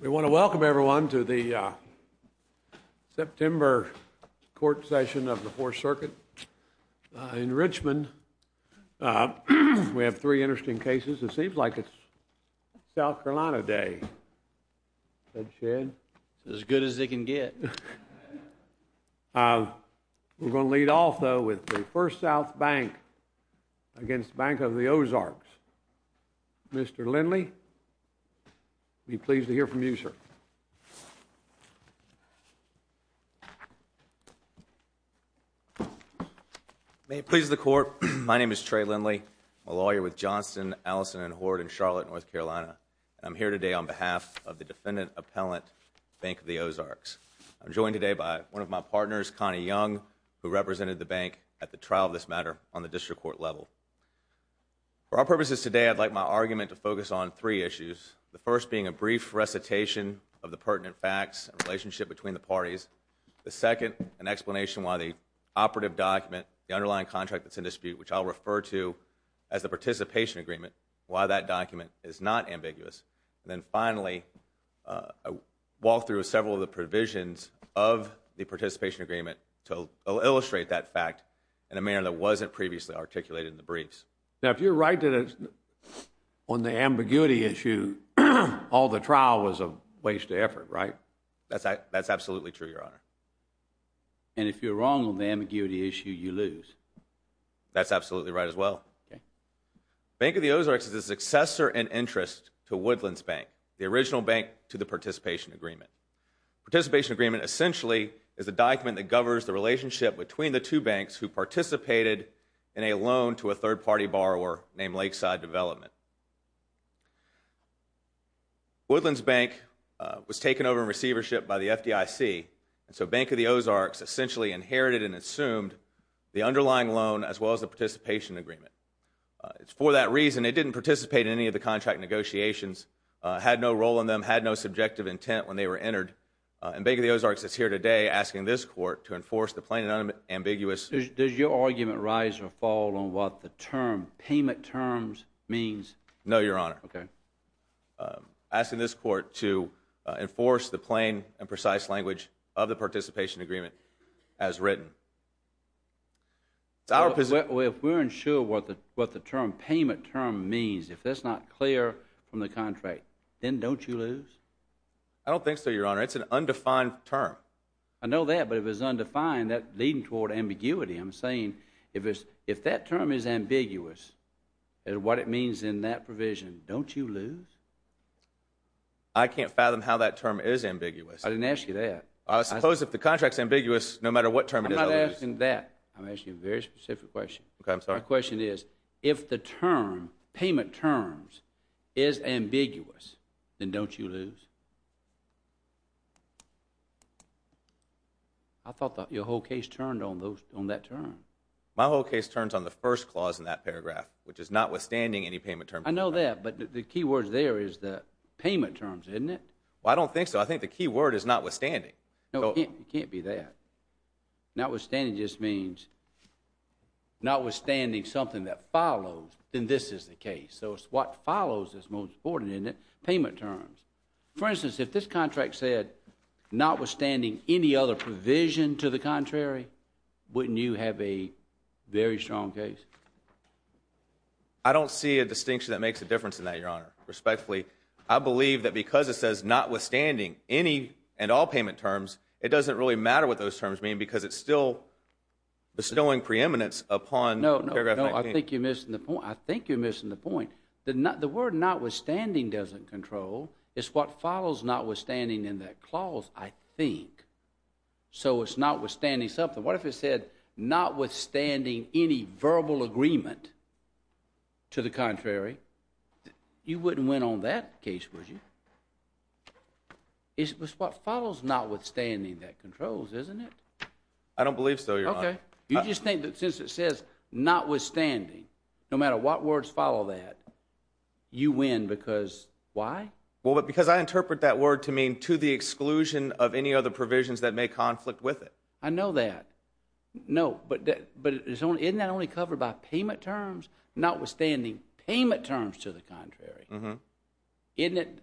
We want to welcome everyone to the September Court Session of the Fourth Circuit in Richmond. We have three interesting cases. It seems like it's South Carolina Day, Ted Shedd. As good as it can get. We're going to lead off, though, with the First South Bank v. Bank of the Ozarks. Mr. Lindley, we're pleased to hear from you, sir. May it please the Court, my name is Trey Lindley, a lawyer with Johnston, Allison & Hoard in Charlotte, North Carolina, and I'm here today on behalf of the Defendant Appellant, Bank of the Ozarks. I'm joined today by one of my partners, Connie Young, who represented the bank at the trial of this matter on the district court level. For our purposes today, I'd like my argument to focus on three issues, the first being a brief recitation of the pertinent facts and relationship between the parties, the second, an explanation why the operative document, the underlying contract that's in dispute, which I'll refer to as the participation agreement, why that document is not ambiguous, and then finally, a walkthrough of several of the provisions of the participation agreement to illustrate that fact in a manner that wasn't previously articulated in the briefs. Now, if you're right on the ambiguity issue, all the trial was a waste of effort, right? That's absolutely true, Your Honor. And if you're wrong on the ambiguity issue, you lose? That's absolutely right as well. Bank of the Ozarks is a successor in interest to Woodlands Bank, the original bank to the participation agreement. Participation agreement essentially is a document that governs the relationship between the two banks who participated in a loan to a third-party borrower named Lakeside Development. Woodlands Bank was taken over in receivership by the FDIC, and so Bank of the Ozarks essentially inherited and assumed the underlying loan as well as the participation agreement. For that reason, it didn't participate in any of the contract negotiations, had no role in them, had no subjective intent when they were entered, and Bank of the Ozarks is here today asking this court to enforce the plain and unambiguous – Does your argument rise or fall on what the term payment terms means? No, Your Honor. Asking this court to enforce the plain and precise language of the participation agreement as written. If we're unsure what the term payment term means, if that's not clear from the contract, then don't you lose? I don't think so, Your Honor. It's an undefined term. I know that, but if it's undefined, that's leading toward ambiguity. I'm saying if that term is ambiguous, what it means in that provision, don't you lose? I can't fathom how that term is ambiguous. I didn't ask you that. I suppose if the contract's ambiguous, no matter what term it is, I'll lose. I'm not asking that. I'm asking a very specific question. Okay, I'm sorry. My question is, if the term payment terms is ambiguous, then don't you lose? I thought your whole case turned on that term. My whole case turns on the first clause in that paragraph, which is notwithstanding any payment terms. I know that, but the key word there is the payment terms, isn't it? Well, I don't think so. I think the key word is notwithstanding. No, it can't be that. Notwithstanding just means notwithstanding something that follows, then this is the case. So it's what follows that's most important in it, payment terms. For instance, if this contract said, notwithstanding any other provision to the contrary, wouldn't you have a very strong case? I don't see a distinction that makes a difference in that, Your Honor, respectfully. I believe that because it says notwithstanding any and all payment terms, it doesn't really matter what those terms mean because it's still bestowing preeminence upon paragraph No, no. I think you're missing the point. I think you're missing the point. The word notwithstanding doesn't control. It's what follows notwithstanding in that clause, I think. So it's notwithstanding something. What if it said notwithstanding any verbal agreement to the contrary? You wouldn't win on that case, would you? It's what follows notwithstanding that controls, isn't it? I don't believe so, Your Honor. Okay. You just think that since it says notwithstanding, no matter what words follow that, you win because why? Well, because I interpret that word to mean to the exclusion of any other provisions that may conflict with it. I know that. No, but isn't that only covered by payment terms? Notwithstanding payment terms to the contrary. Isn't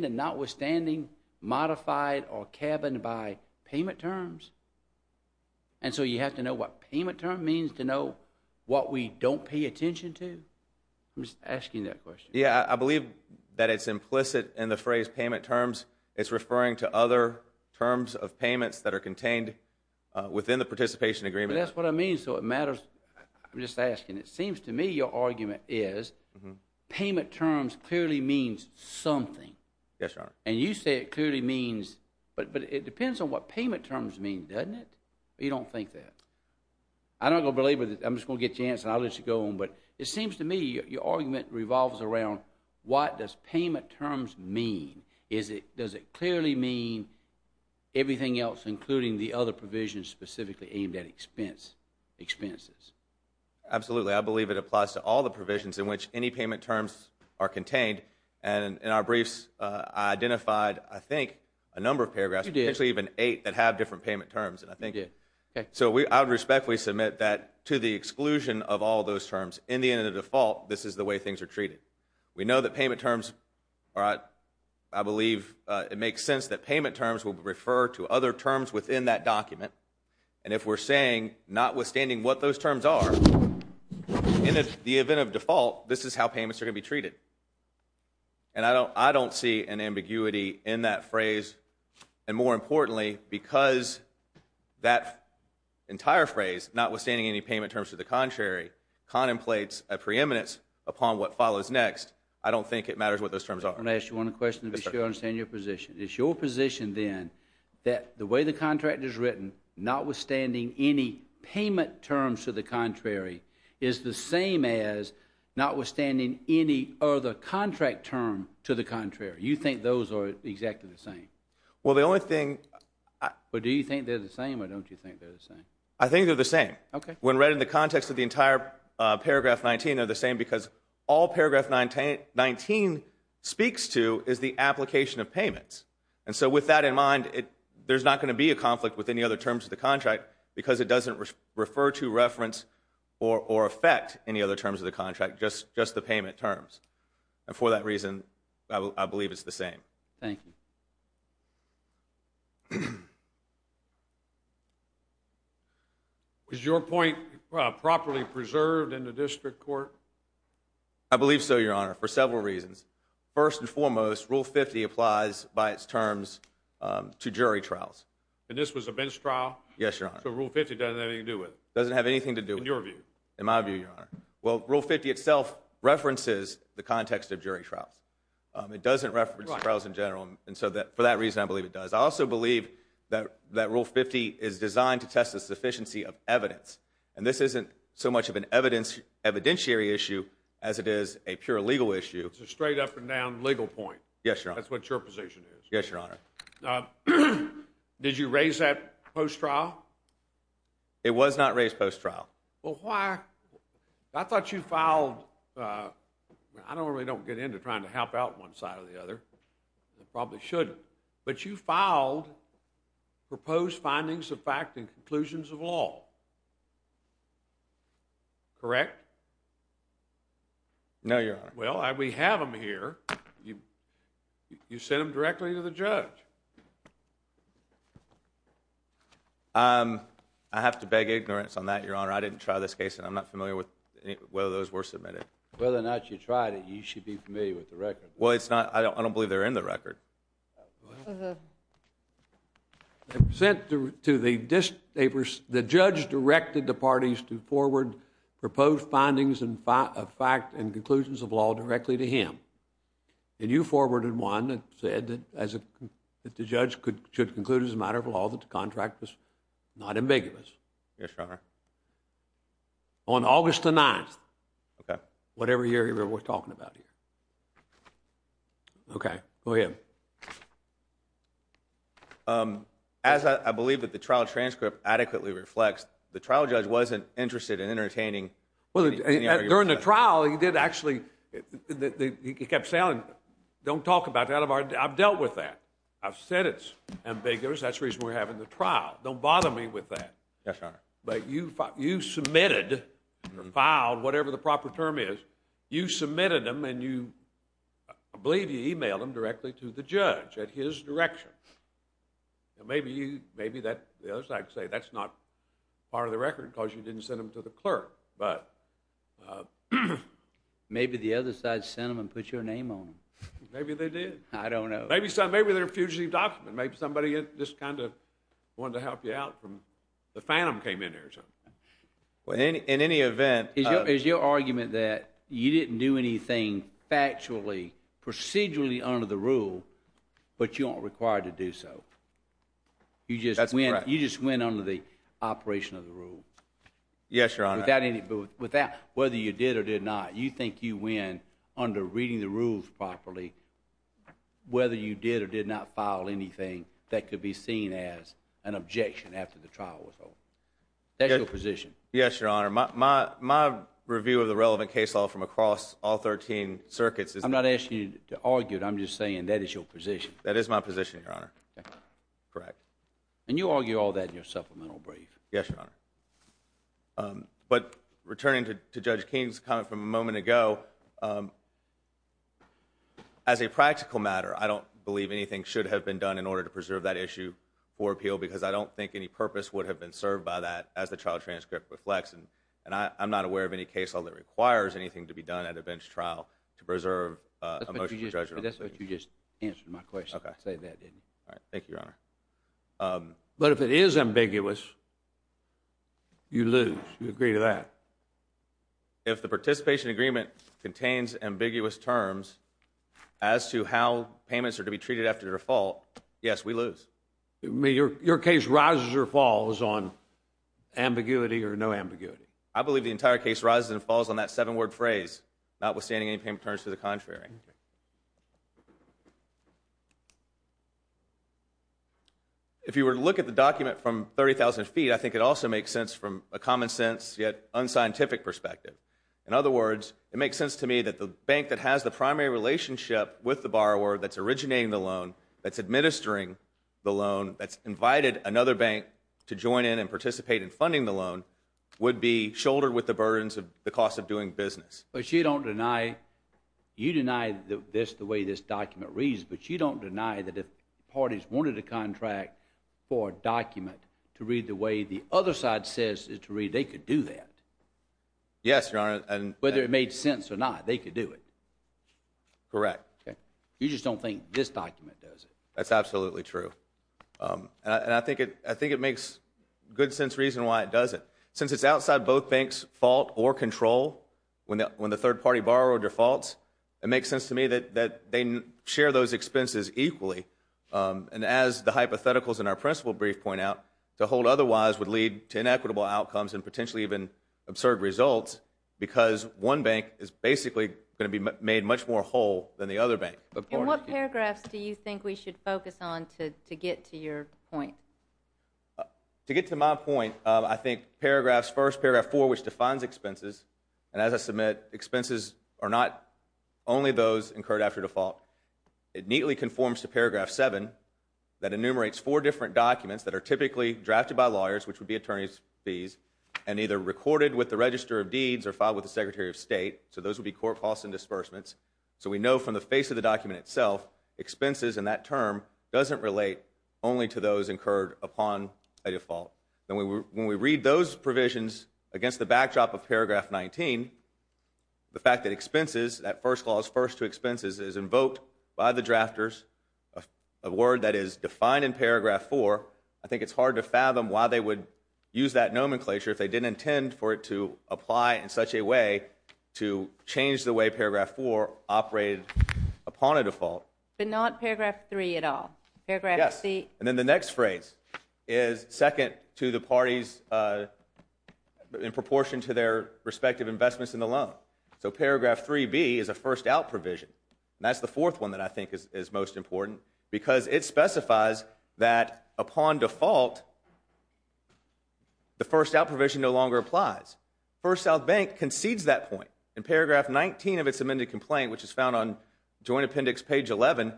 it notwithstanding modified or cabined by payment terms? And so you have to know what payment term means to know what we don't pay attention to? I'm just asking that question. Yeah, I believe that it's implicit in the phrase payment terms. It's referring to other terms of payments that are contained within the participation agreement. That's what I mean. So it matters. I'm just asking. It seems to me your argument is payment terms clearly means something. Yes, Your Honor. And you say it clearly means, but it depends on what payment terms mean, doesn't it? You don't think that? I'm not going to believe it. I'm just going to get your answer and I'll let you go on, but it seems to me your argument revolves around what does payment terms mean? Does it clearly mean everything else including the other provisions specifically aimed at expense? Expenses. Absolutely. I believe it applies to all the provisions in which any payment terms are contained. And in our briefs, I identified, I think, a number of paragraphs, potentially even eight, that have different payment terms. So I respectfully submit that to the exclusion of all those terms, in the end of the default, this is the way things are treated. We know that payment terms, I believe it makes sense that payment terms will refer to other terms within that document. And if we're saying, notwithstanding what those terms are, in the event of default, this is how payments are going to be treated. And I don't see an ambiguity in that phrase. And more importantly, because that entire phrase, notwithstanding any payment terms to the contrary, contemplates a preeminence upon what follows next, I don't think it matters what those terms are. I'm going to ask you one question to be sure I understand your position. It's your position, then, that the way the contract is written, notwithstanding any payment terms to the contrary, is the same as notwithstanding any other contract term to the contrary. You think those are exactly the same? Well, the only thing... But do you think they're the same, or don't you think they're the same? I think they're the same. Okay. When read in the context of the entire paragraph 19, they're the same, because all paragraph 19 speaks to is the application of payments. And so with that in mind, there's not going to be a conflict with any other terms of the contract, because it doesn't refer to, reference, or affect any other terms of the contract, just the payment terms. And for that reason, I believe it's the same. Thank you. Is your point properly preserved in the district court? I believe so, Your Honor, for several reasons. First and foremost, Rule 50 applies by its terms to jury trials. And this was a bench trial? Yes, Your Honor. So Rule 50 doesn't have anything to do with it? Doesn't have anything to do with it. In your view? In my view, Your Honor. Well, Rule 50 itself references the context of jury trials. It doesn't reference trials in general, and so for that reason, I believe it does. I also believe that Rule 50 is designed to test the sufficiency of evidence. And this isn't so much of an evidentiary issue as it is a pure legal issue. It's a straight up and down legal point. Yes, Your Honor. That's what your position is. Yes, Your Honor. Did you raise that post-trial? It was not raised post-trial. Well, why? I thought you filed, I don't really get into trying to help out one side or the other. Probably shouldn't. But you filed proposed findings of fact and conclusions of law, correct? No, Your Honor. Well, we have them here. You sent them directly to the judge. I have to beg ignorance on that, Your Honor. I didn't try this case and I'm not familiar with whether those were submitted. Whether or not you tried it, you should be familiar with the record. Uh-huh. The judge directed the parties to forward proposed findings of fact and conclusions of law directly to him. And you forwarded one that said that the judge should conclude as a matter of law that the contract was not ambiguous. Yes, Your Honor. On August the 9th. Okay. Whatever year we're talking about here. Okay. Go ahead. As I believe that the trial transcript adequately reflects, the trial judge wasn't interested in entertaining. During the trial, he did actually, he kept saying, don't talk about that. I've dealt with that. I've said it's ambiguous. That's the reason we're having the trial. Don't bother me with that. Yes, Your Honor. But you submitted, filed, whatever the proper term is, you submitted them and you, I believe you emailed them directly to the judge at his direction. Maybe you, maybe the other side could say that's not part of the record because you didn't send them to the clerk. But, uh, Maybe the other side sent them and put your name on them. Maybe they did. I don't know. Maybe they're a fugitive document. Maybe somebody just kind of wanted to help you out from, the phantom came in here or something. In any event, Is your argument that you didn't do anything factually, procedurally under the rule, but you aren't required to do so? That's correct. You just went under the operation of the rule? Yes, Your Honor. Without any, whether you did or did not, you think you went under reading the rules properly, whether you did or did not file anything that could be seen as an objection after the trial was over? That's your position? Yes, Your Honor. My review of the relevant case law from across all 13 circuits is... I'm not asking you to argue it, I'm just saying that is your position. That is my position, Your Honor. Correct. And you argue all that in your supplemental brief? Yes, Your Honor. But, returning to Judge King's comment from a moment ago, As a practical matter, I don't believe anything should have been done in order to preserve that issue for appeal because I don't think any purpose would have been served by that as the trial transcript reflects and I'm not aware of any case law that requires anything to be done at a bench trial to preserve a motion for judgment. But that's what you just answered my question. Thank you, Your Honor. But if it is ambiguous, you lose. You agree to that? If the participation agreement contains ambiguous terms as to how payments are to be treated after default, yes, we lose. Your case rises or falls on ambiguity or no ambiguity? I believe the entire case rises and falls on that seven-word phrase, notwithstanding any payment returns to the contrary. If you were to look at the document from 30,000 feet, I think it also makes sense from a common-sense yet unscientific perspective. In other words, it makes sense to me that the bank that has the primary relationship with the borrower that's originating the loan, that's administering the loan, that's invited another bank to join in and participate in funding the loan, would be shouldered with the burdens of the cost of doing business. But you don't deny this the way this document reads, but you don't deny that if parties wanted a contract for a document to read the way the other side says it to read, they could do that? Yes, Your Honor. Whether it made sense or not, they could do it? Correct. You just don't think this document does it? That's absolutely true. And I think it makes good sense reason why it doesn't. Since it's outside both banks' fault or control, when the third party borrower defaults, it makes sense to me that they share those expenses equally. And as the hypotheticals in our principle brief point out, to hold otherwise would lead to inequitable outcomes and potentially even absurd results because one bank is basically going to be made much more whole than the other bank. And what paragraphs do you think we should focus on to get to your point? To get to my point, I think first paragraph four, which defines expenses, and as I submit, expenses are not only those incurred after default. It neatly conforms to paragraph seven that enumerates four different documents that are typically drafted by lawyers, which would be attorney's fees, and either recorded with the Register of Deeds or filed with the Secretary of State. So those would be court costs and disbursements. So we know from the face of the document itself, expenses in that term doesn't relate only to those incurred upon a default. When we read those provisions against the backdrop of paragraph 19, the fact that expenses, that first clause, first to expenses, is invoked by the drafters, a word that is defined in paragraph four, I think it's hard to fathom why they would use that nomenclature if they didn't intend for it to apply in such a way to change the way paragraph four operated upon a default. But not paragraph three at all? Yes, and then the next phrase is second to the parties in proportion to their respective investments in the loan. So paragraph 3B is a first out provision. And that's the fourth one that I think is most important, because it specifies that upon default, the first out provision no longer applies. First South Bank concedes that point. In paragraph 19 of its amended complaint, which is found on Joint Appendix page 11,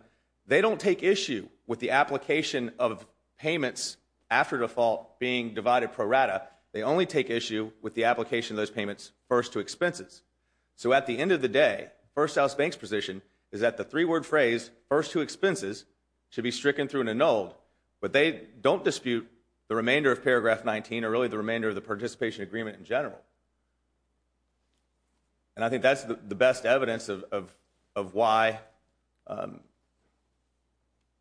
they don't take issue with the application of payments after default being divided pro rata. They only take issue with the application of those payments first to expenses. So at the end of the day, First South Bank's position is that the three-word phrase, first to expenses, should be stricken through and annulled, but they don't dispute the remainder of paragraph 19, or really the remainder of the participation agreement in general. And I think that's the best evidence of why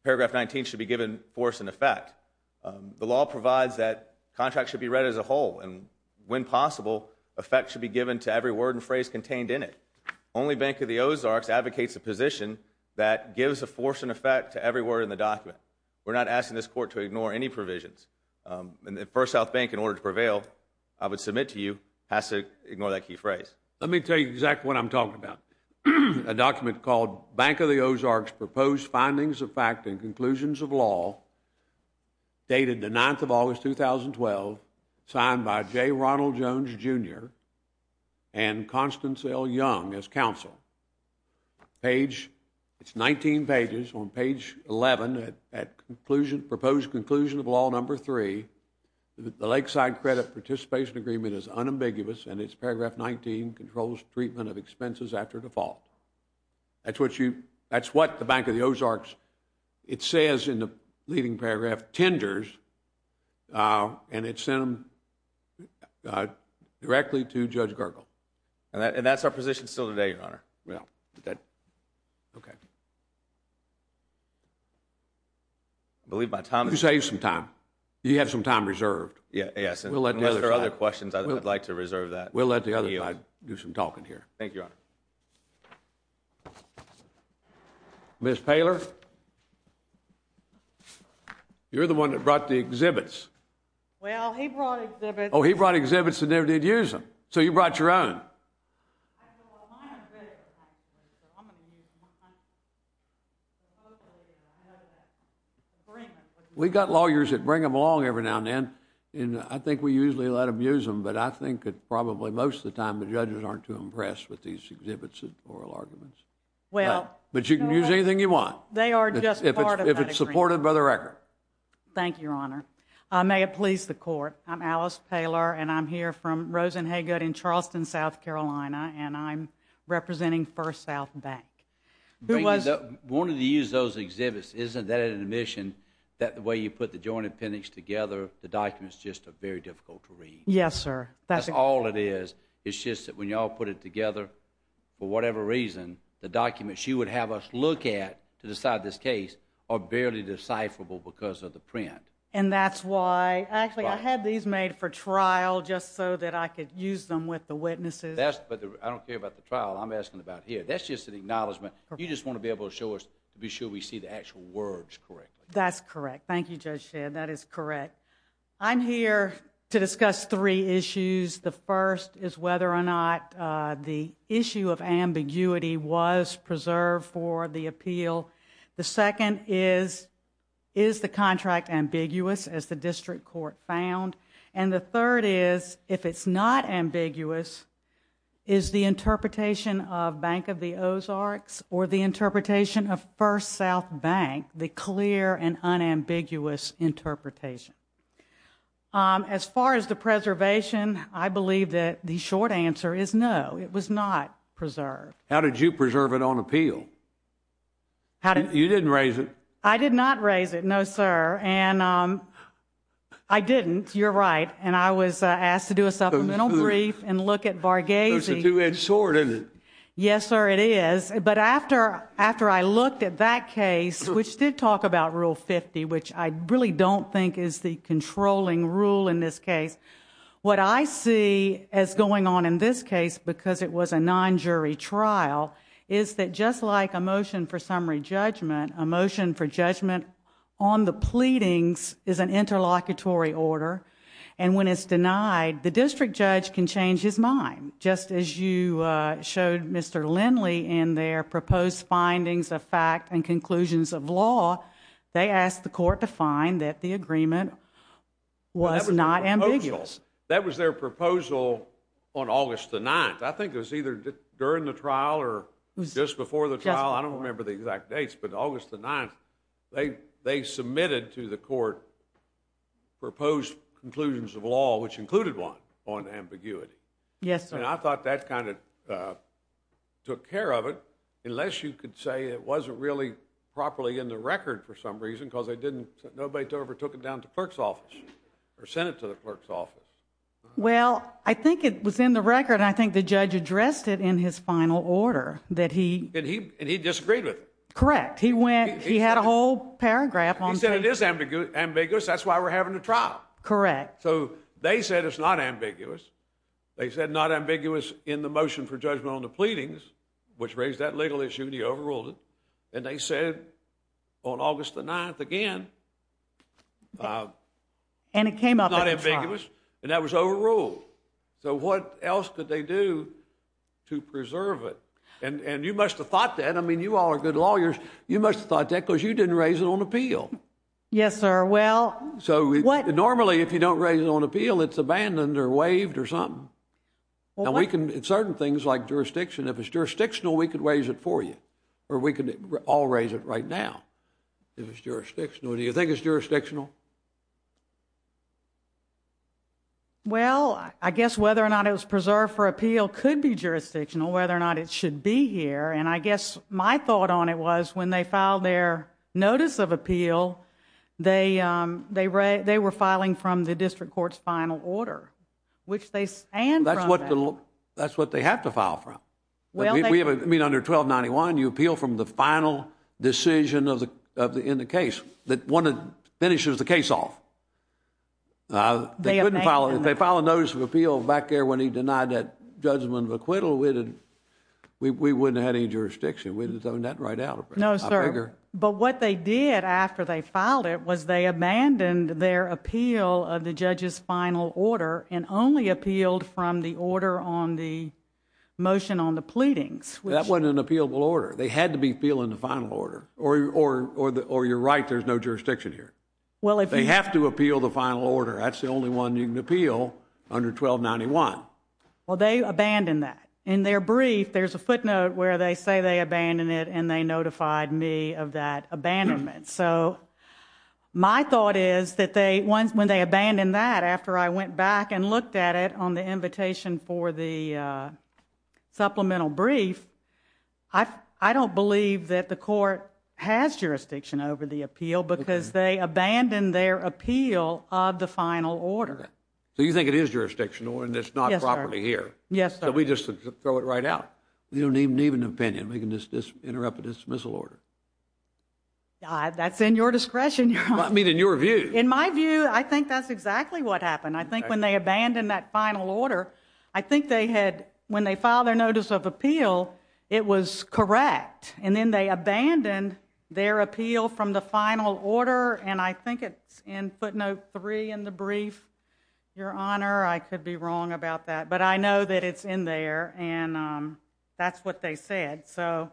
paragraph 19 should be given force and effect. The law provides that contracts should be read as a whole, and when possible, effect should be given to every word and phrase contained in it. Only Bank of the Ozarks advocates a position that gives a force and effect to every word in the document. We're not asking this Court to ignore any provisions. First South Bank, in order to prevail, I would submit to you, has to ignore that key phrase. Let me tell you exactly what I'm talking about. A document called Bank of the Ozarks Proposed Findings of Fact and Conclusions of Law, dated the 9th of August, 2012, signed by J. Ronald Jones, Jr., and Constance L. Young as counsel. Page, it's 19 pages, on page 11, at conclusion, proposed conclusion of law number 3, the Lakeside Credit Participation Agreement is unambiguous and its paragraph 19 controls treatment of expenses after default. That's what you, that's what the Bank of the Ozarks, it says in the leading paragraph, tenders, and it sent them directly to Judge Gergel. And that's our position still today, Your Honor. Well, okay. I believe my time is up. You saved some time. You have some time reserved. Yes, unless there are other questions, I'd like to reserve that. Thank you, Your Honor. Ms. Poehler? You're the one that brought the exhibits. Well, he brought exhibits. Oh, he brought exhibits and never did use them. So you brought your own. We got lawyers that bring them along every now and then, and I think we usually let them use them, but I think that probably most of the time, the judges aren't too impressed with these exhibits and oral arguments. But you can use anything you want. They are just part of that agreement. If it's supported by the record. Thank you, Your Honor. May it please the Court, I'm Alice Poehler, and I'm here from Rosenhaygood in Charleston, South Carolina, and I'm representing First South Bank. I wanted to use those exhibits. Isn't that an admission that the way you put the joint appendix together, the documents just are very difficult to read? Yes, sir. That's all it is. It's just that when you all put it together, for whatever reason, the documents you would have us look at to decide this case are barely decipherable because of the print. And that's why, actually, I had these made for trial just so that I could use them with the witnesses. But I don't care about the trial. I'm asking about here. That's just an acknowledgment. You just want to be able to show us, to be sure we see the actual words correctly. That's correct. Thank you, Judge Shea. That is correct. I'm here to discuss three issues. The first is whether or not the issue of ambiguity was preserved for the appeal. The second is, is the contract ambiguous, as the district court found. And the third is, if it's not ambiguous, is the interpretation of Bank of the Ozarks or the interpretation of First South Bank the clear and unambiguous interpretation? As far as the preservation, I believe that the short answer is no, it was not preserved. How did you preserve it on appeal? You didn't raise it. I did not raise it, no, sir. And I didn't, you're right. And I was asked to do a supplemental brief and look at Varghese. It's a two-edged sword, isn't it? Yes, sir, it is. But after I looked at that case, which did talk about Rule 50, which I really don't think is the controlling rule in this case, what I see as going on in this case, because it was a non-jury trial, is that just like a motion for summary judgment, a motion for judgment on the pleadings is an interlocutory order. And when it's denied, the district judge can change his mind, just as you showed Mr. Lindley in their proposed findings of fact and conclusions of law, they asked the court to find that the agreement was not ambiguous. That was their proposal on August the 9th. I think it was either during the trial or just before the trial. I don't remember the exact dates, but August the 9th, they submitted to the court proposed conclusions of law, which included one on ambiguity. Yes, sir. And I thought that kind of took care of it, unless you could say it wasn't really properly in the record for some reason, because they didn't, nobody ever took it down to the clerk's office, or sent it to the clerk's office. Well, I think it was in the record, and I think the judge addressed it in his final order, that he... And he disagreed with it. Correct. He went, he had a whole paragraph on... He said it is ambiguous, that's why we're having a trial. Correct. So they said it's not ambiguous, they said not ambiguous in the motion for judgment on the pleadings, which raised that legal issue, and he overruled it, and they said on August the 9th again... And it came up at the trial. ...not ambiguous, and that was overruled. So what else could they do to preserve it? And you must have thought that, I mean, you all are good lawyers, you must have thought that, because you didn't raise it on appeal. Yes, sir. Well... So normally, if you don't raise it on appeal, it's abandoned or waived or something. Well, what... And we can, in certain things, like jurisdiction, if it's jurisdictional, we could raise it for you, or we could all raise it right now, if it's jurisdictional. Do you think it's jurisdictional? Well, I guess whether or not it was preserved for appeal could be jurisdictional, whether or not it should be here, and I guess my thought on it was, when they filed their notice of appeal, they were filing from the district court's final order, which they stand from that. That's what they have to file from. Well, they... I mean, under 1291, you appeal from the final decision in the case, that one that finishes the case off. They couldn't file... They abandoned that. If they filed a notice of appeal back there when he denied that judgment of acquittal, we wouldn't have had any jurisdiction. We would have done that right out of it. No, sir. But what they did after they filed it was they abandoned their appeal of the judge's final order and only appealed from the order on the motion on the pleadings. That wasn't an appealable order. They had to be appealing the final order. Or you're right, there's no jurisdiction here. They have to appeal the final order. That's the only one you can appeal under 1291. Well, they abandoned that. In their brief, there's a footnote where they say they abandoned it and they notified me of that abandonment. So my thought is that when they abandoned that, after I went back and looked at it on the invitation for the supplemental brief, I don't believe that the court has jurisdiction over the appeal because they abandoned their appeal of the final order. So you think it is jurisdictional and it's not properly here? Yes, sir. So we just throw it right out? We don't even need an opinion. We can just interrupt a dismissal order. That's in your discretion, Your Honor. I mean, in your view. In my view, I think that's exactly what happened. I think when they abandoned that final order, I think when they filed their notice of appeal, it was correct. And then they abandoned their appeal from the final order and I think it's in footnote 3 in the brief, Your Honor. I could be wrong about that. But I know that it's in there. And that's what they said. So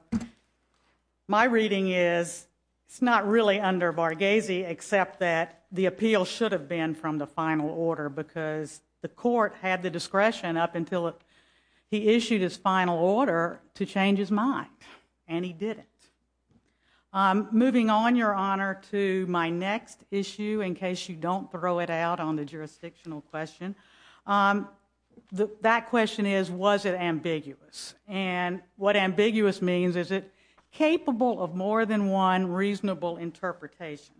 my reading is it's not really under Varghese except that the appeal should have been from the final order because the court had the discretion up until he issued his final order to change his mind. And he didn't. Moving on, Your Honor, to my next issue, in case you don't throw it out on the jurisdictional question. That question is, was it ambiguous? And what ambiguous means, is it capable of more than one reasonable interpretation?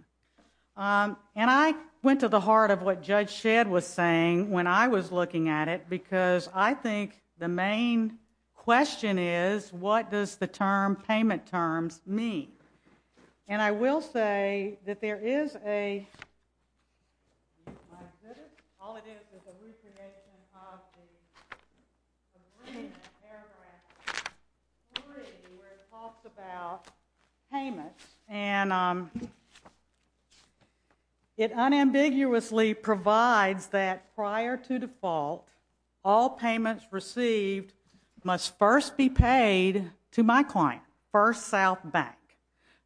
And I went to the heart of what Judge Shedd was saying when I was looking at it because I think the main question is, what does the term payment terms mean? And I will say that there is a... All it is is a hallucination of the agreement paragraph 3 where it talks about payments. And it unambiguously provides that prior to default, all payments received must first be paid to my client, First South Bank,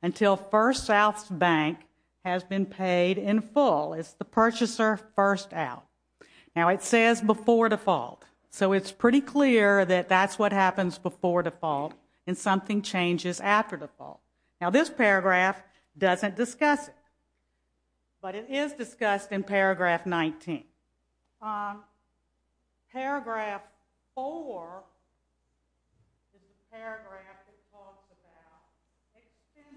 until First South Bank has been paid in full. It's the purchaser first out. Now, it says before default, so it's pretty clear that that's what happens before default and something changes after default. Now, this paragraph doesn't discuss it, but it is discussed in paragraph 19. Paragraph 4 is the paragraph that talks about...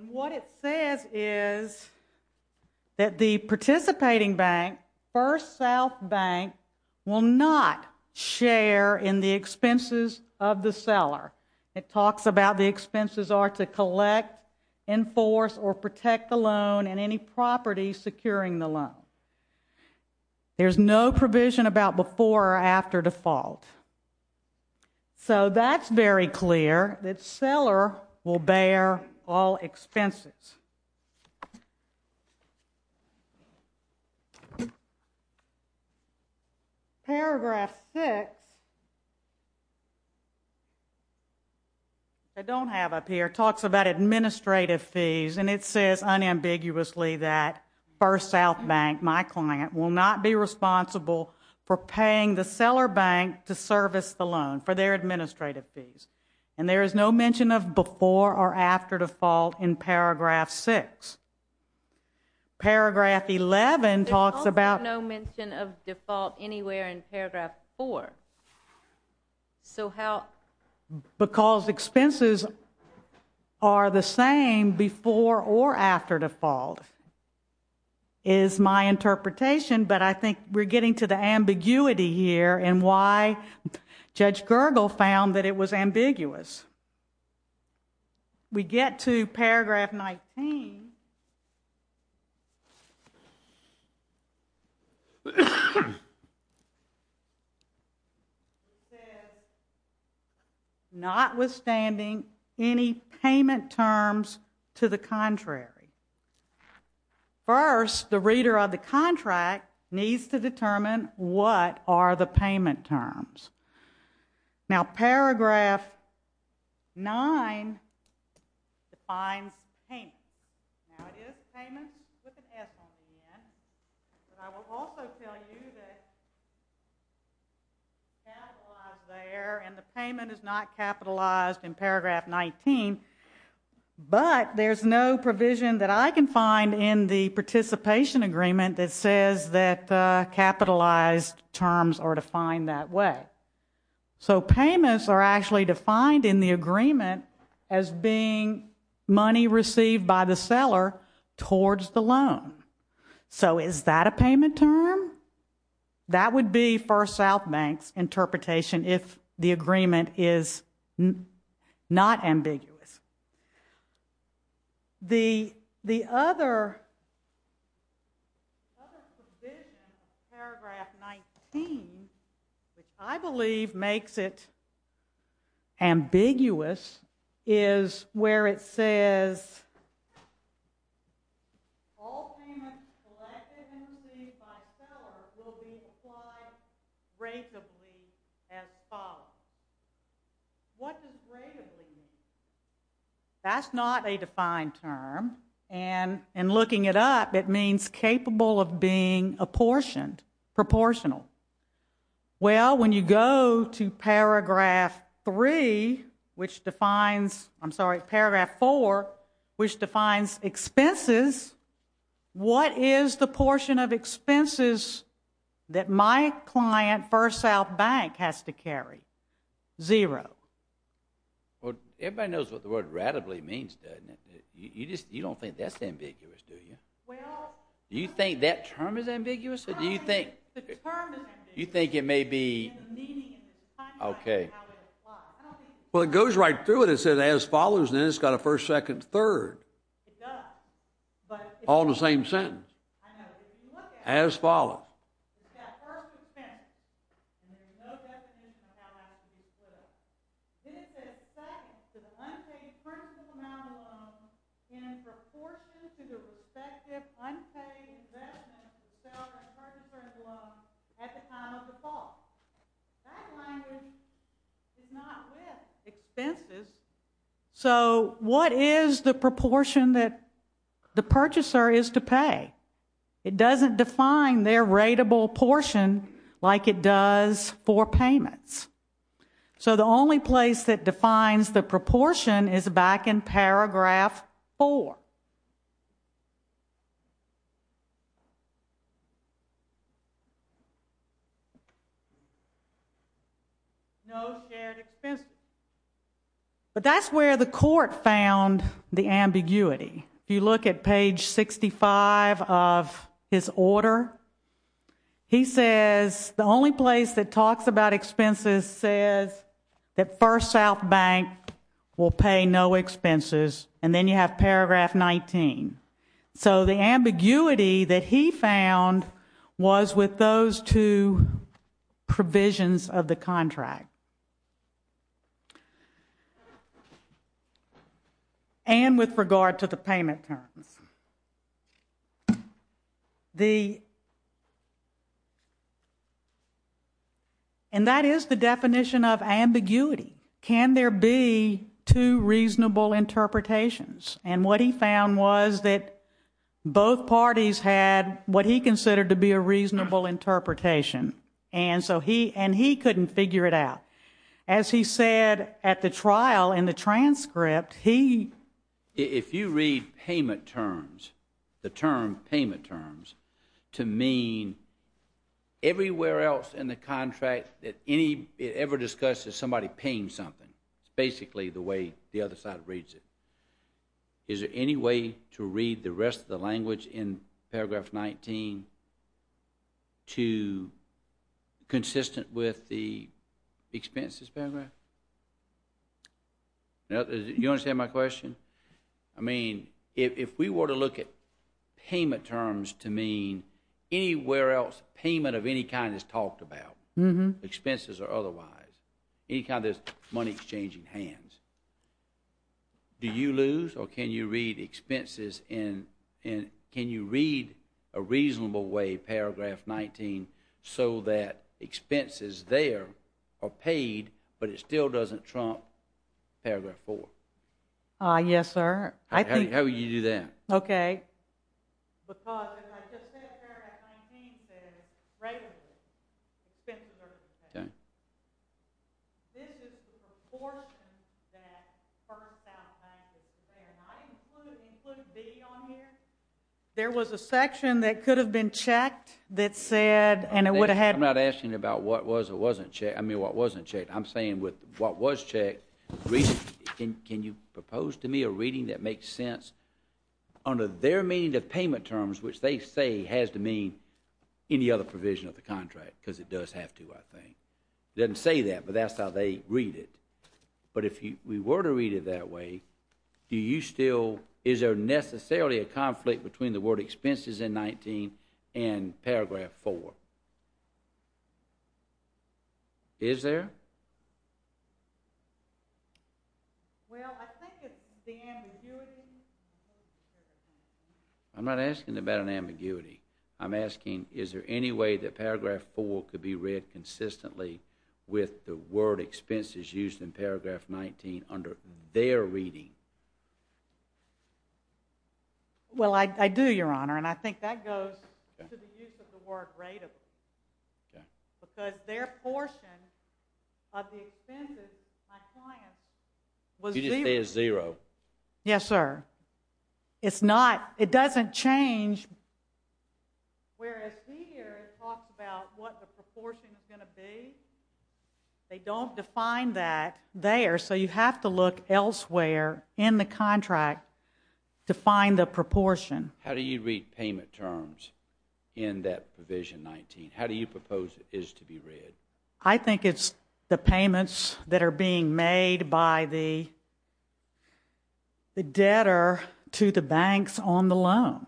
And what it says is that the participating bank, First South Bank, will not share in the expenses of the seller. It talks about the expenses are to collect, enforce, or protect the loan and any property securing the loan. There's no provision about before or after default. So that's very clear that seller will bear all expenses. Paragraph 6, I don't have up here, talks about administrative fees and it says unambiguously that First South Bank, my client, will not be responsible for paying the seller bank to service the loan for their administrative fees. And there is no mention of before or after default in paragraph 6. Paragraph 11 talks about... There's also no mention of default anywhere in paragraph 4. So how... Because expenses are the same before or after default, is my interpretation, but I think we're getting to the ambiguity here and why Judge Gergel found that it was ambiguous. We get to paragraph 19. It says, notwithstanding any payment terms to the contrary. First, the reader of the contract needs to determine what are the payment terms. Now, paragraph 9 defines payment. Now, it is payment with an S on the end. But I will also tell you that capitalized there, and the payment is not capitalized in paragraph 19, but there's no provision that I can find in the participation agreement that says that capitalized terms are defined that way. So payments are actually defined in the agreement as being money received by the seller towards the loan. So is that a payment term? That would be First South Bank's interpretation if the agreement is not ambiguous. The other provision in paragraph 19, which I believe makes it ambiguous, is where it says, all payments collected and received by seller will be applied ratably as follows. What does ratably mean? That's not a defined term. And in looking it up, it means capable of being apportioned, proportional. Well, when you go to paragraph 3, which defines, I'm sorry, paragraph 4, which defines expenses, what is the portion of expenses that my client, First South Bank, has to carry? Zero. Well, everybody knows what the word ratably means, doesn't it? You don't think that's ambiguous, do you? Do you think that term is ambiguous, or do you think it may be... Okay. Well, it goes right through it. It says, as follows, and then it's got a first, second, third. All in the same sentence. As follows. This is thanks to the unpaid principal amount of loan in proportion to the respective unpaid investment of the seller and purchaser's loan at the time of default. That language is not with expenses. So, what is the proportion that the purchaser is to pay? It doesn't define their ratable portion like it does for payments. So, the only place that defines the proportion is back in paragraph 4. No shared expenses. But that's where the court found the ambiguity. If you look at page 65 of his order, he says the only place that talks about expenses says that First South Bank will pay no expenses, and then you have paragraph 19. So, the ambiguity that he found was with those two provisions of the contract. And with regard to the payment terms. The... And that is the definition of ambiguity. Can there be two reasonable interpretations? And what he found was that both parties had what he considered to be a reasonable interpretation. And he couldn't figure it out. As he said at the trial in the transcript, he... If you read payment terms, the term payment terms, to mean everywhere else in the contract that it ever discusses somebody paying something. It's basically the way the other side reads it. Is there any way to read the rest of the language in paragraph 19 to consistent with the expenses paragraph? You understand my question? I mean, if we were to look at payment terms to mean anywhere else payment of any kind is talked about, expenses or otherwise, any kind of money exchanging hands, do you lose or can you read expenses in... Can you read a reasonable way paragraph 19 so that expenses there are paid but it still doesn't trump paragraph 4? Yes, sir. How would you do that? Okay. Because if I just said paragraph 19 says regular expenses are to be paid, this is the proportion that first-out taxes are to be paid. And I included B on here. There was a section that could have been checked that said, and it would have had... I'm not asking about what was or wasn't checked. I mean, what wasn't checked. I'm saying with what was checked, can you propose to me a reading that makes sense under their meaning of payment terms which they say has to mean any other provision of the contract because it does have to, I think. It doesn't say that, but that's how they read it. But if we were to read it that way, do you still... Is there necessarily a conflict between the word expenses in 19 and paragraph 4? Is there? Well, I think it's the ambiguity. I'm not asking about an ambiguity. I'm asking, is there any way that paragraph 4 could be read consistently with the word expenses used in paragraph 19 under their reading? Well, I do, Your Honor, and I think that goes to the use of the word rateable. Because their portion of the expenses to my client was zero. You just say it's zero. Yes, sir. It's not. It doesn't change. Whereas we here talked about what the proportion is going to be. They don't define that there. So you have to look elsewhere in the contract to find the proportion. How do you read payment terms in that provision 19? How do you propose it is to be read? I think it's the payments that are being made by the debtor to the banks on the loan.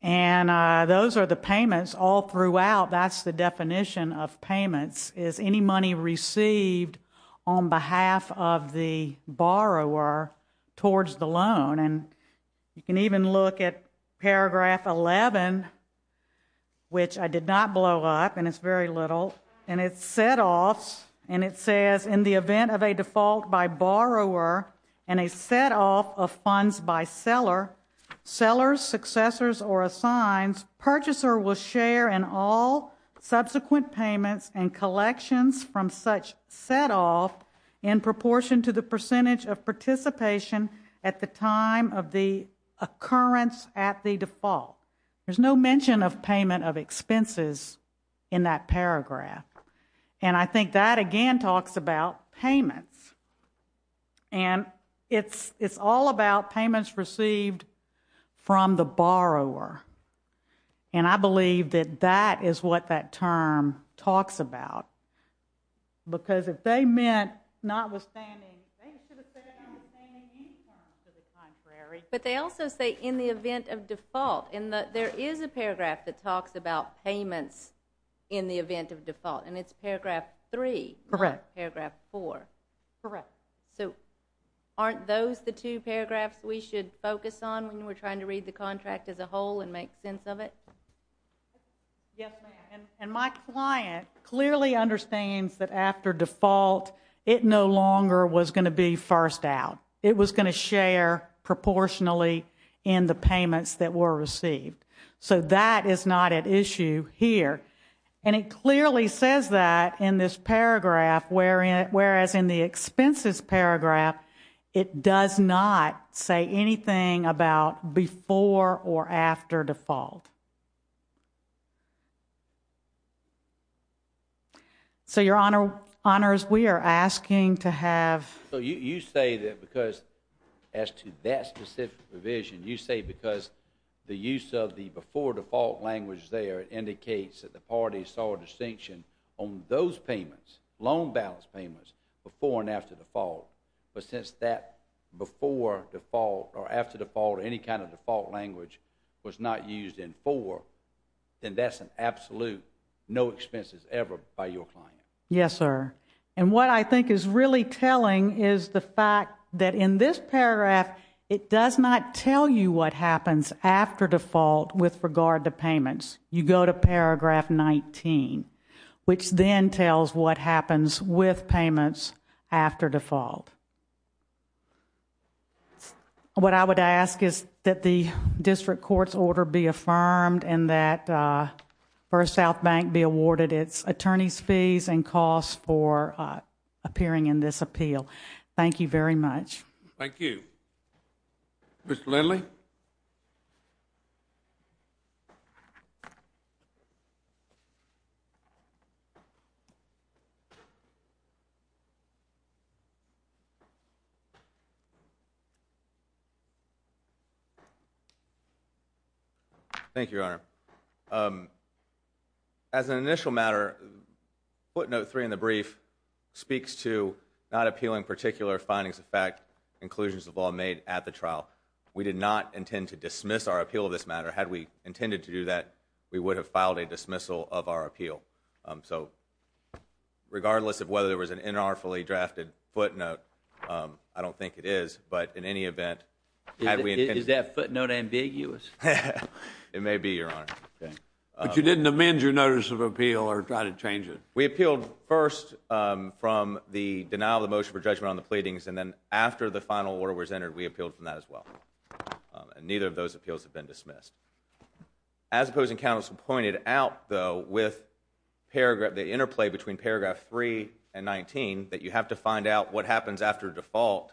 And those are the payments all throughout. That's the definition of payments. Is any money received on behalf of the borrower towards the loan. And you can even look at paragraph 11, which I did not blow up and it's very little, and it's setoffs. And it says, in the event of a default by borrower and a setoff of funds by seller, sellers, successors, or assigns, purchaser will share in all subsequent payments and collections from such setoff in proportion to the percentage of participation at the time of the occurrence at the default. There's no mention of payment of expenses in that paragraph. And I think that again talks about payments. And it's all about payments received from the borrower. And I believe that that is what that term talks about. Because if they meant notwithstanding, But they also say, in the event of default, and there is a paragraph that talks about payments in the event of default. And it's paragraph 3. Not paragraph 4. So aren't those the two paragraphs we should focus on when we're trying to read the contract as a whole and make sense of it? Yes, ma'am. And my client clearly understands that after default, it no longer was going to be first out. It was going to share proportionally in the payments that were received. So that is not at issue here. And it clearly says that in this paragraph, whereas in the expenses paragraph, it does not say anything about before or after default. So, your honors, we are asking to have You say that because as to that specific provision, you say because the use of the before default language there indicates that the parties saw a distinction on those payments, loan balance payments, before and after default. But since that before default or after default or any kind of default language was not used in 4, then that's an absolute no expenses ever by your client. Yes, sir. And what I think is really telling is the fact that in this paragraph, it does not tell you what happens after default with regard to payments. You go to paragraph 19, which then tells what happens with payments after default. What I would ask is that the district court's order be affirmed and that First South Bank be awarded its attorney's fees and costs for appearing in this appeal. Thank you very much. Thank you. Mr. Lindley? Thank you, your honor. As an initial matter, footnote 3 in the brief speaks to not appealing particular findings of fact, inclusions of law made at the trial. We did not intend to dismiss our appeal of this matter. Had we intended to do that, we would have filed a dismissal of our appeal. So, regardless of whether there was an inartfully drafted footnote, I don't think it is. But in any event, Is that footnote ambiguous? It may be, your honor. But you didn't amend your notice of appeal or try to change it? We appealed first from the denial of the motion for judgment on the pleadings and then after the final order was entered, we appealed from that as well. And neither of those appeals have been dismissed. As opposing counsel pointed out, though, with the interplay between paragraph 3 and 19, that you have to find out what happens after default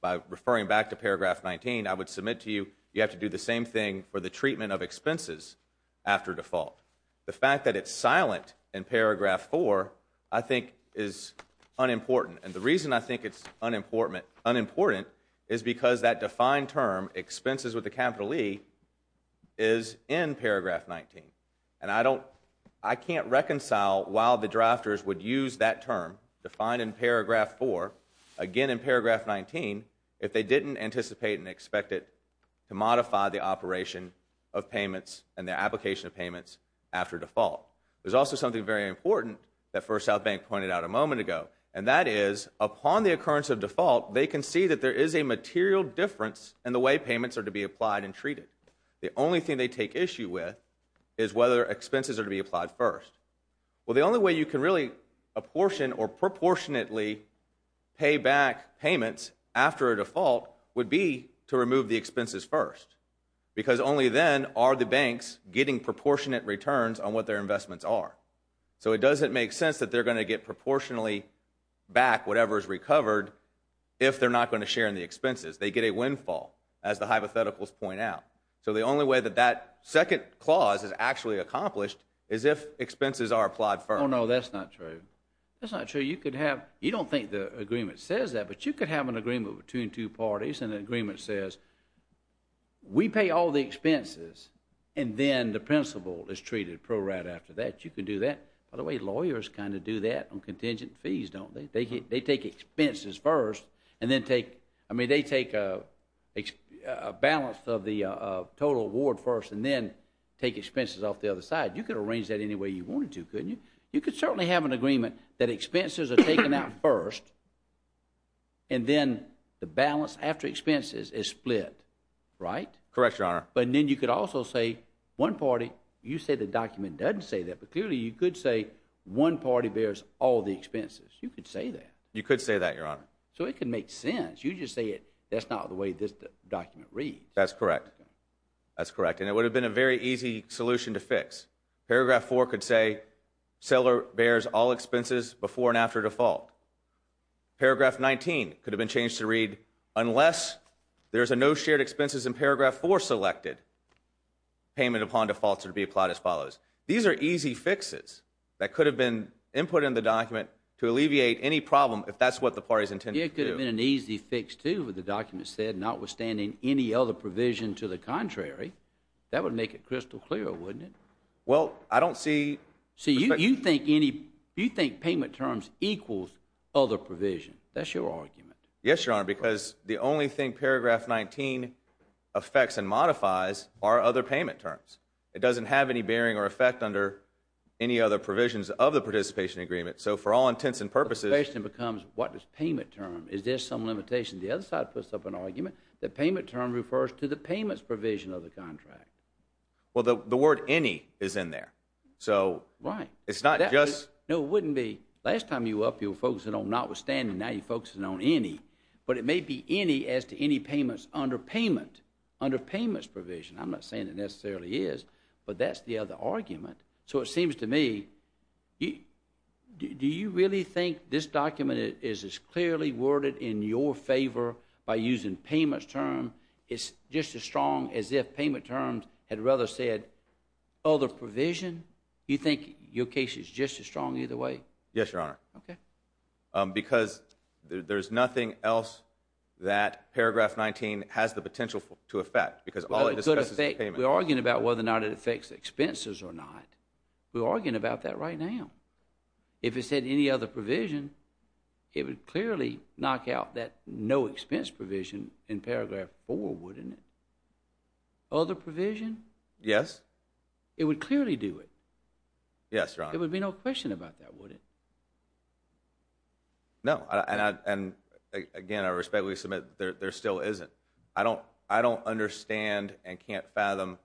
by referring back to paragraph 19, I would submit to you, you have to do the same thing for the treatment of expenses after default. The fact that it's silent in paragraph 4, I think is unimportant. And the reason I think it's unimportant is because that defined term, expenses with a capital E, is in paragraph 19. And I don't I can't reconcile why the drafters would use that term defined in paragraph 4 again in paragraph 19 if they didn't anticipate and expect it to modify the operation of payments and the application of payments after default. There's also something very important that First South Bank pointed out a moment ago, and that is upon the occurrence of default, they can see that there is a material difference in the way payments are to be applied and treated. The only thing they take issue with is whether expenses are to be applied first. Well, the only way you can really apportion or proportionately pay back payments after a default would be to remove the expenses first. Because only then are the banks getting proportionate returns on what their investments are. So it doesn't make sense that they're going to get proportionally back whatever is recovered if they're not going to share in the expenses. They get a windfall, as the hypotheticals point out. So the only way that that second clause is actually accomplished is if expenses are applied first. Oh no, that's not true. You don't think the agreement says that, but you could have an agreement between two parties and the agreement says we pay all the expenses and then the principal is treated pro-rat after that. You could do that. By the way, lawyers kind of do that on contingent fees, don't they? They take expenses first and then take I mean, they take a balance of the total award first and then take expenses off the other side. You could arrange that any way you wanted to, couldn't you? You could certainly have an agreement that expenses are taken out first and then the balance after expenses is split, right? Correct, Your Honor. But then you could also say one party, you say the document doesn't say that, but clearly you could say one party bears all the expenses. You could say that. You could say that, Your Honor. So it could make sense. You just say that's not the way this document reads. That's correct. And it would have been a very easy solution to fix. Paragraph 4 could say seller bears all expenses before and after default. Paragraph 19 could have been changed to read, unless there's a no shared expenses in paragraph 4 selected, payment upon defaults would be applied as follows. These are easy fixes that could have been input in the document to alleviate any problem if that's what the party's intended to do. It could have been an easy fix, too, with the document said, notwithstanding any other provision to the contrary. That would make it crystal clear, wouldn't it? Well, I don't see... So you think payment terms equals other provisions. That's your argument. Yes, Your Honor, because the only thing paragraph 19 affects and modifies are other payment terms. It doesn't have any bearing or effect under any other provisions of the participation agreement. So for all intents and purposes... Participation becomes what is payment term? Is there some limitation? The other side puts up an argument that payment term refers to the payments provision of the contract. Well, the word any is in there. So... Right. It's not just... No, it wouldn't be. Last time you were up, you were focusing on notwithstanding. Now you're focusing on any. But it may be any as to any payments under payment, under payments provision. I'm not saying it necessarily is, but that's the other argument. So it seems to me, do you really think this document is as clearly worded in your favor by using payments term? It's just as strong as if payment terms had rather said other provision. You think your case is just as strong either way? Yes, Your Honor. Okay. Because there's nothing else that paragraph 19 has the potential to affect. Because all it discusses is payment. We're arguing about whether or not it affects expenses or not. We're arguing about that right now. If it said any other provision, it would clearly knock out that no expense provision in paragraph 4, wouldn't it? Other provision? Yes. It would clearly do it. Yes, Your Honor. There would be no question about that, would it? No. And again, I respectfully submit there still isn't. I don't understand and can't fathom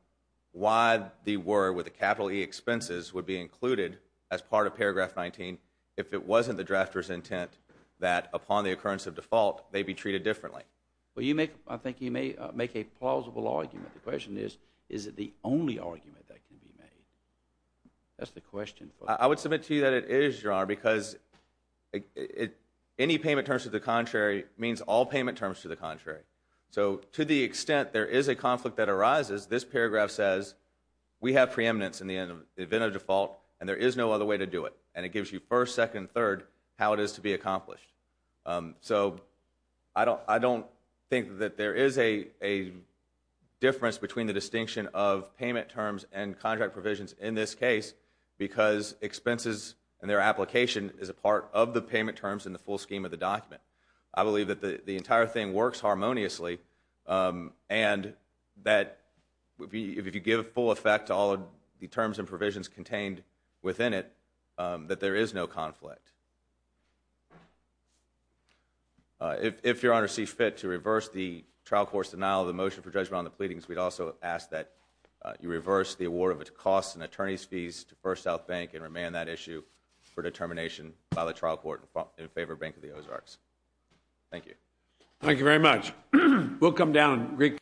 why the word with a capital E expenses would be included as part of paragraph 19 if it wasn't the drafter's intent that upon the occurrence of default they'd be treated differently. I think you may make a plausible argument. The question is is it the only argument that can be made? That's the question. I would submit to you that it is, Your Honor, because any payment terms to the contrary means all payment terms to the contrary. So to the extent there is a conflict that arises, this paragraph says we have preeminence in the event of default and there is no other way to do it. And it gives you first, second, third how it is to be accomplished. So I don't think that there is a difference between the distinction of payment terms and contract provisions in this case because expenses and their application is a part of the payment terms in the full scheme of the document. I believe that the entire thing works harmoniously and that if you give full effect to all the terms and provisions contained within it, that there is no conflict. If, Your Honor, see fit to reverse the trial court's denial of the motion for judgment on the pleadings, we'd also ask that you reverse the award of its costs and attorney's fees to First South Bank and remand that issue for determination by the trial court in favor of Bank of the Ozarks. Thank you. Thank you very much. We'll come down.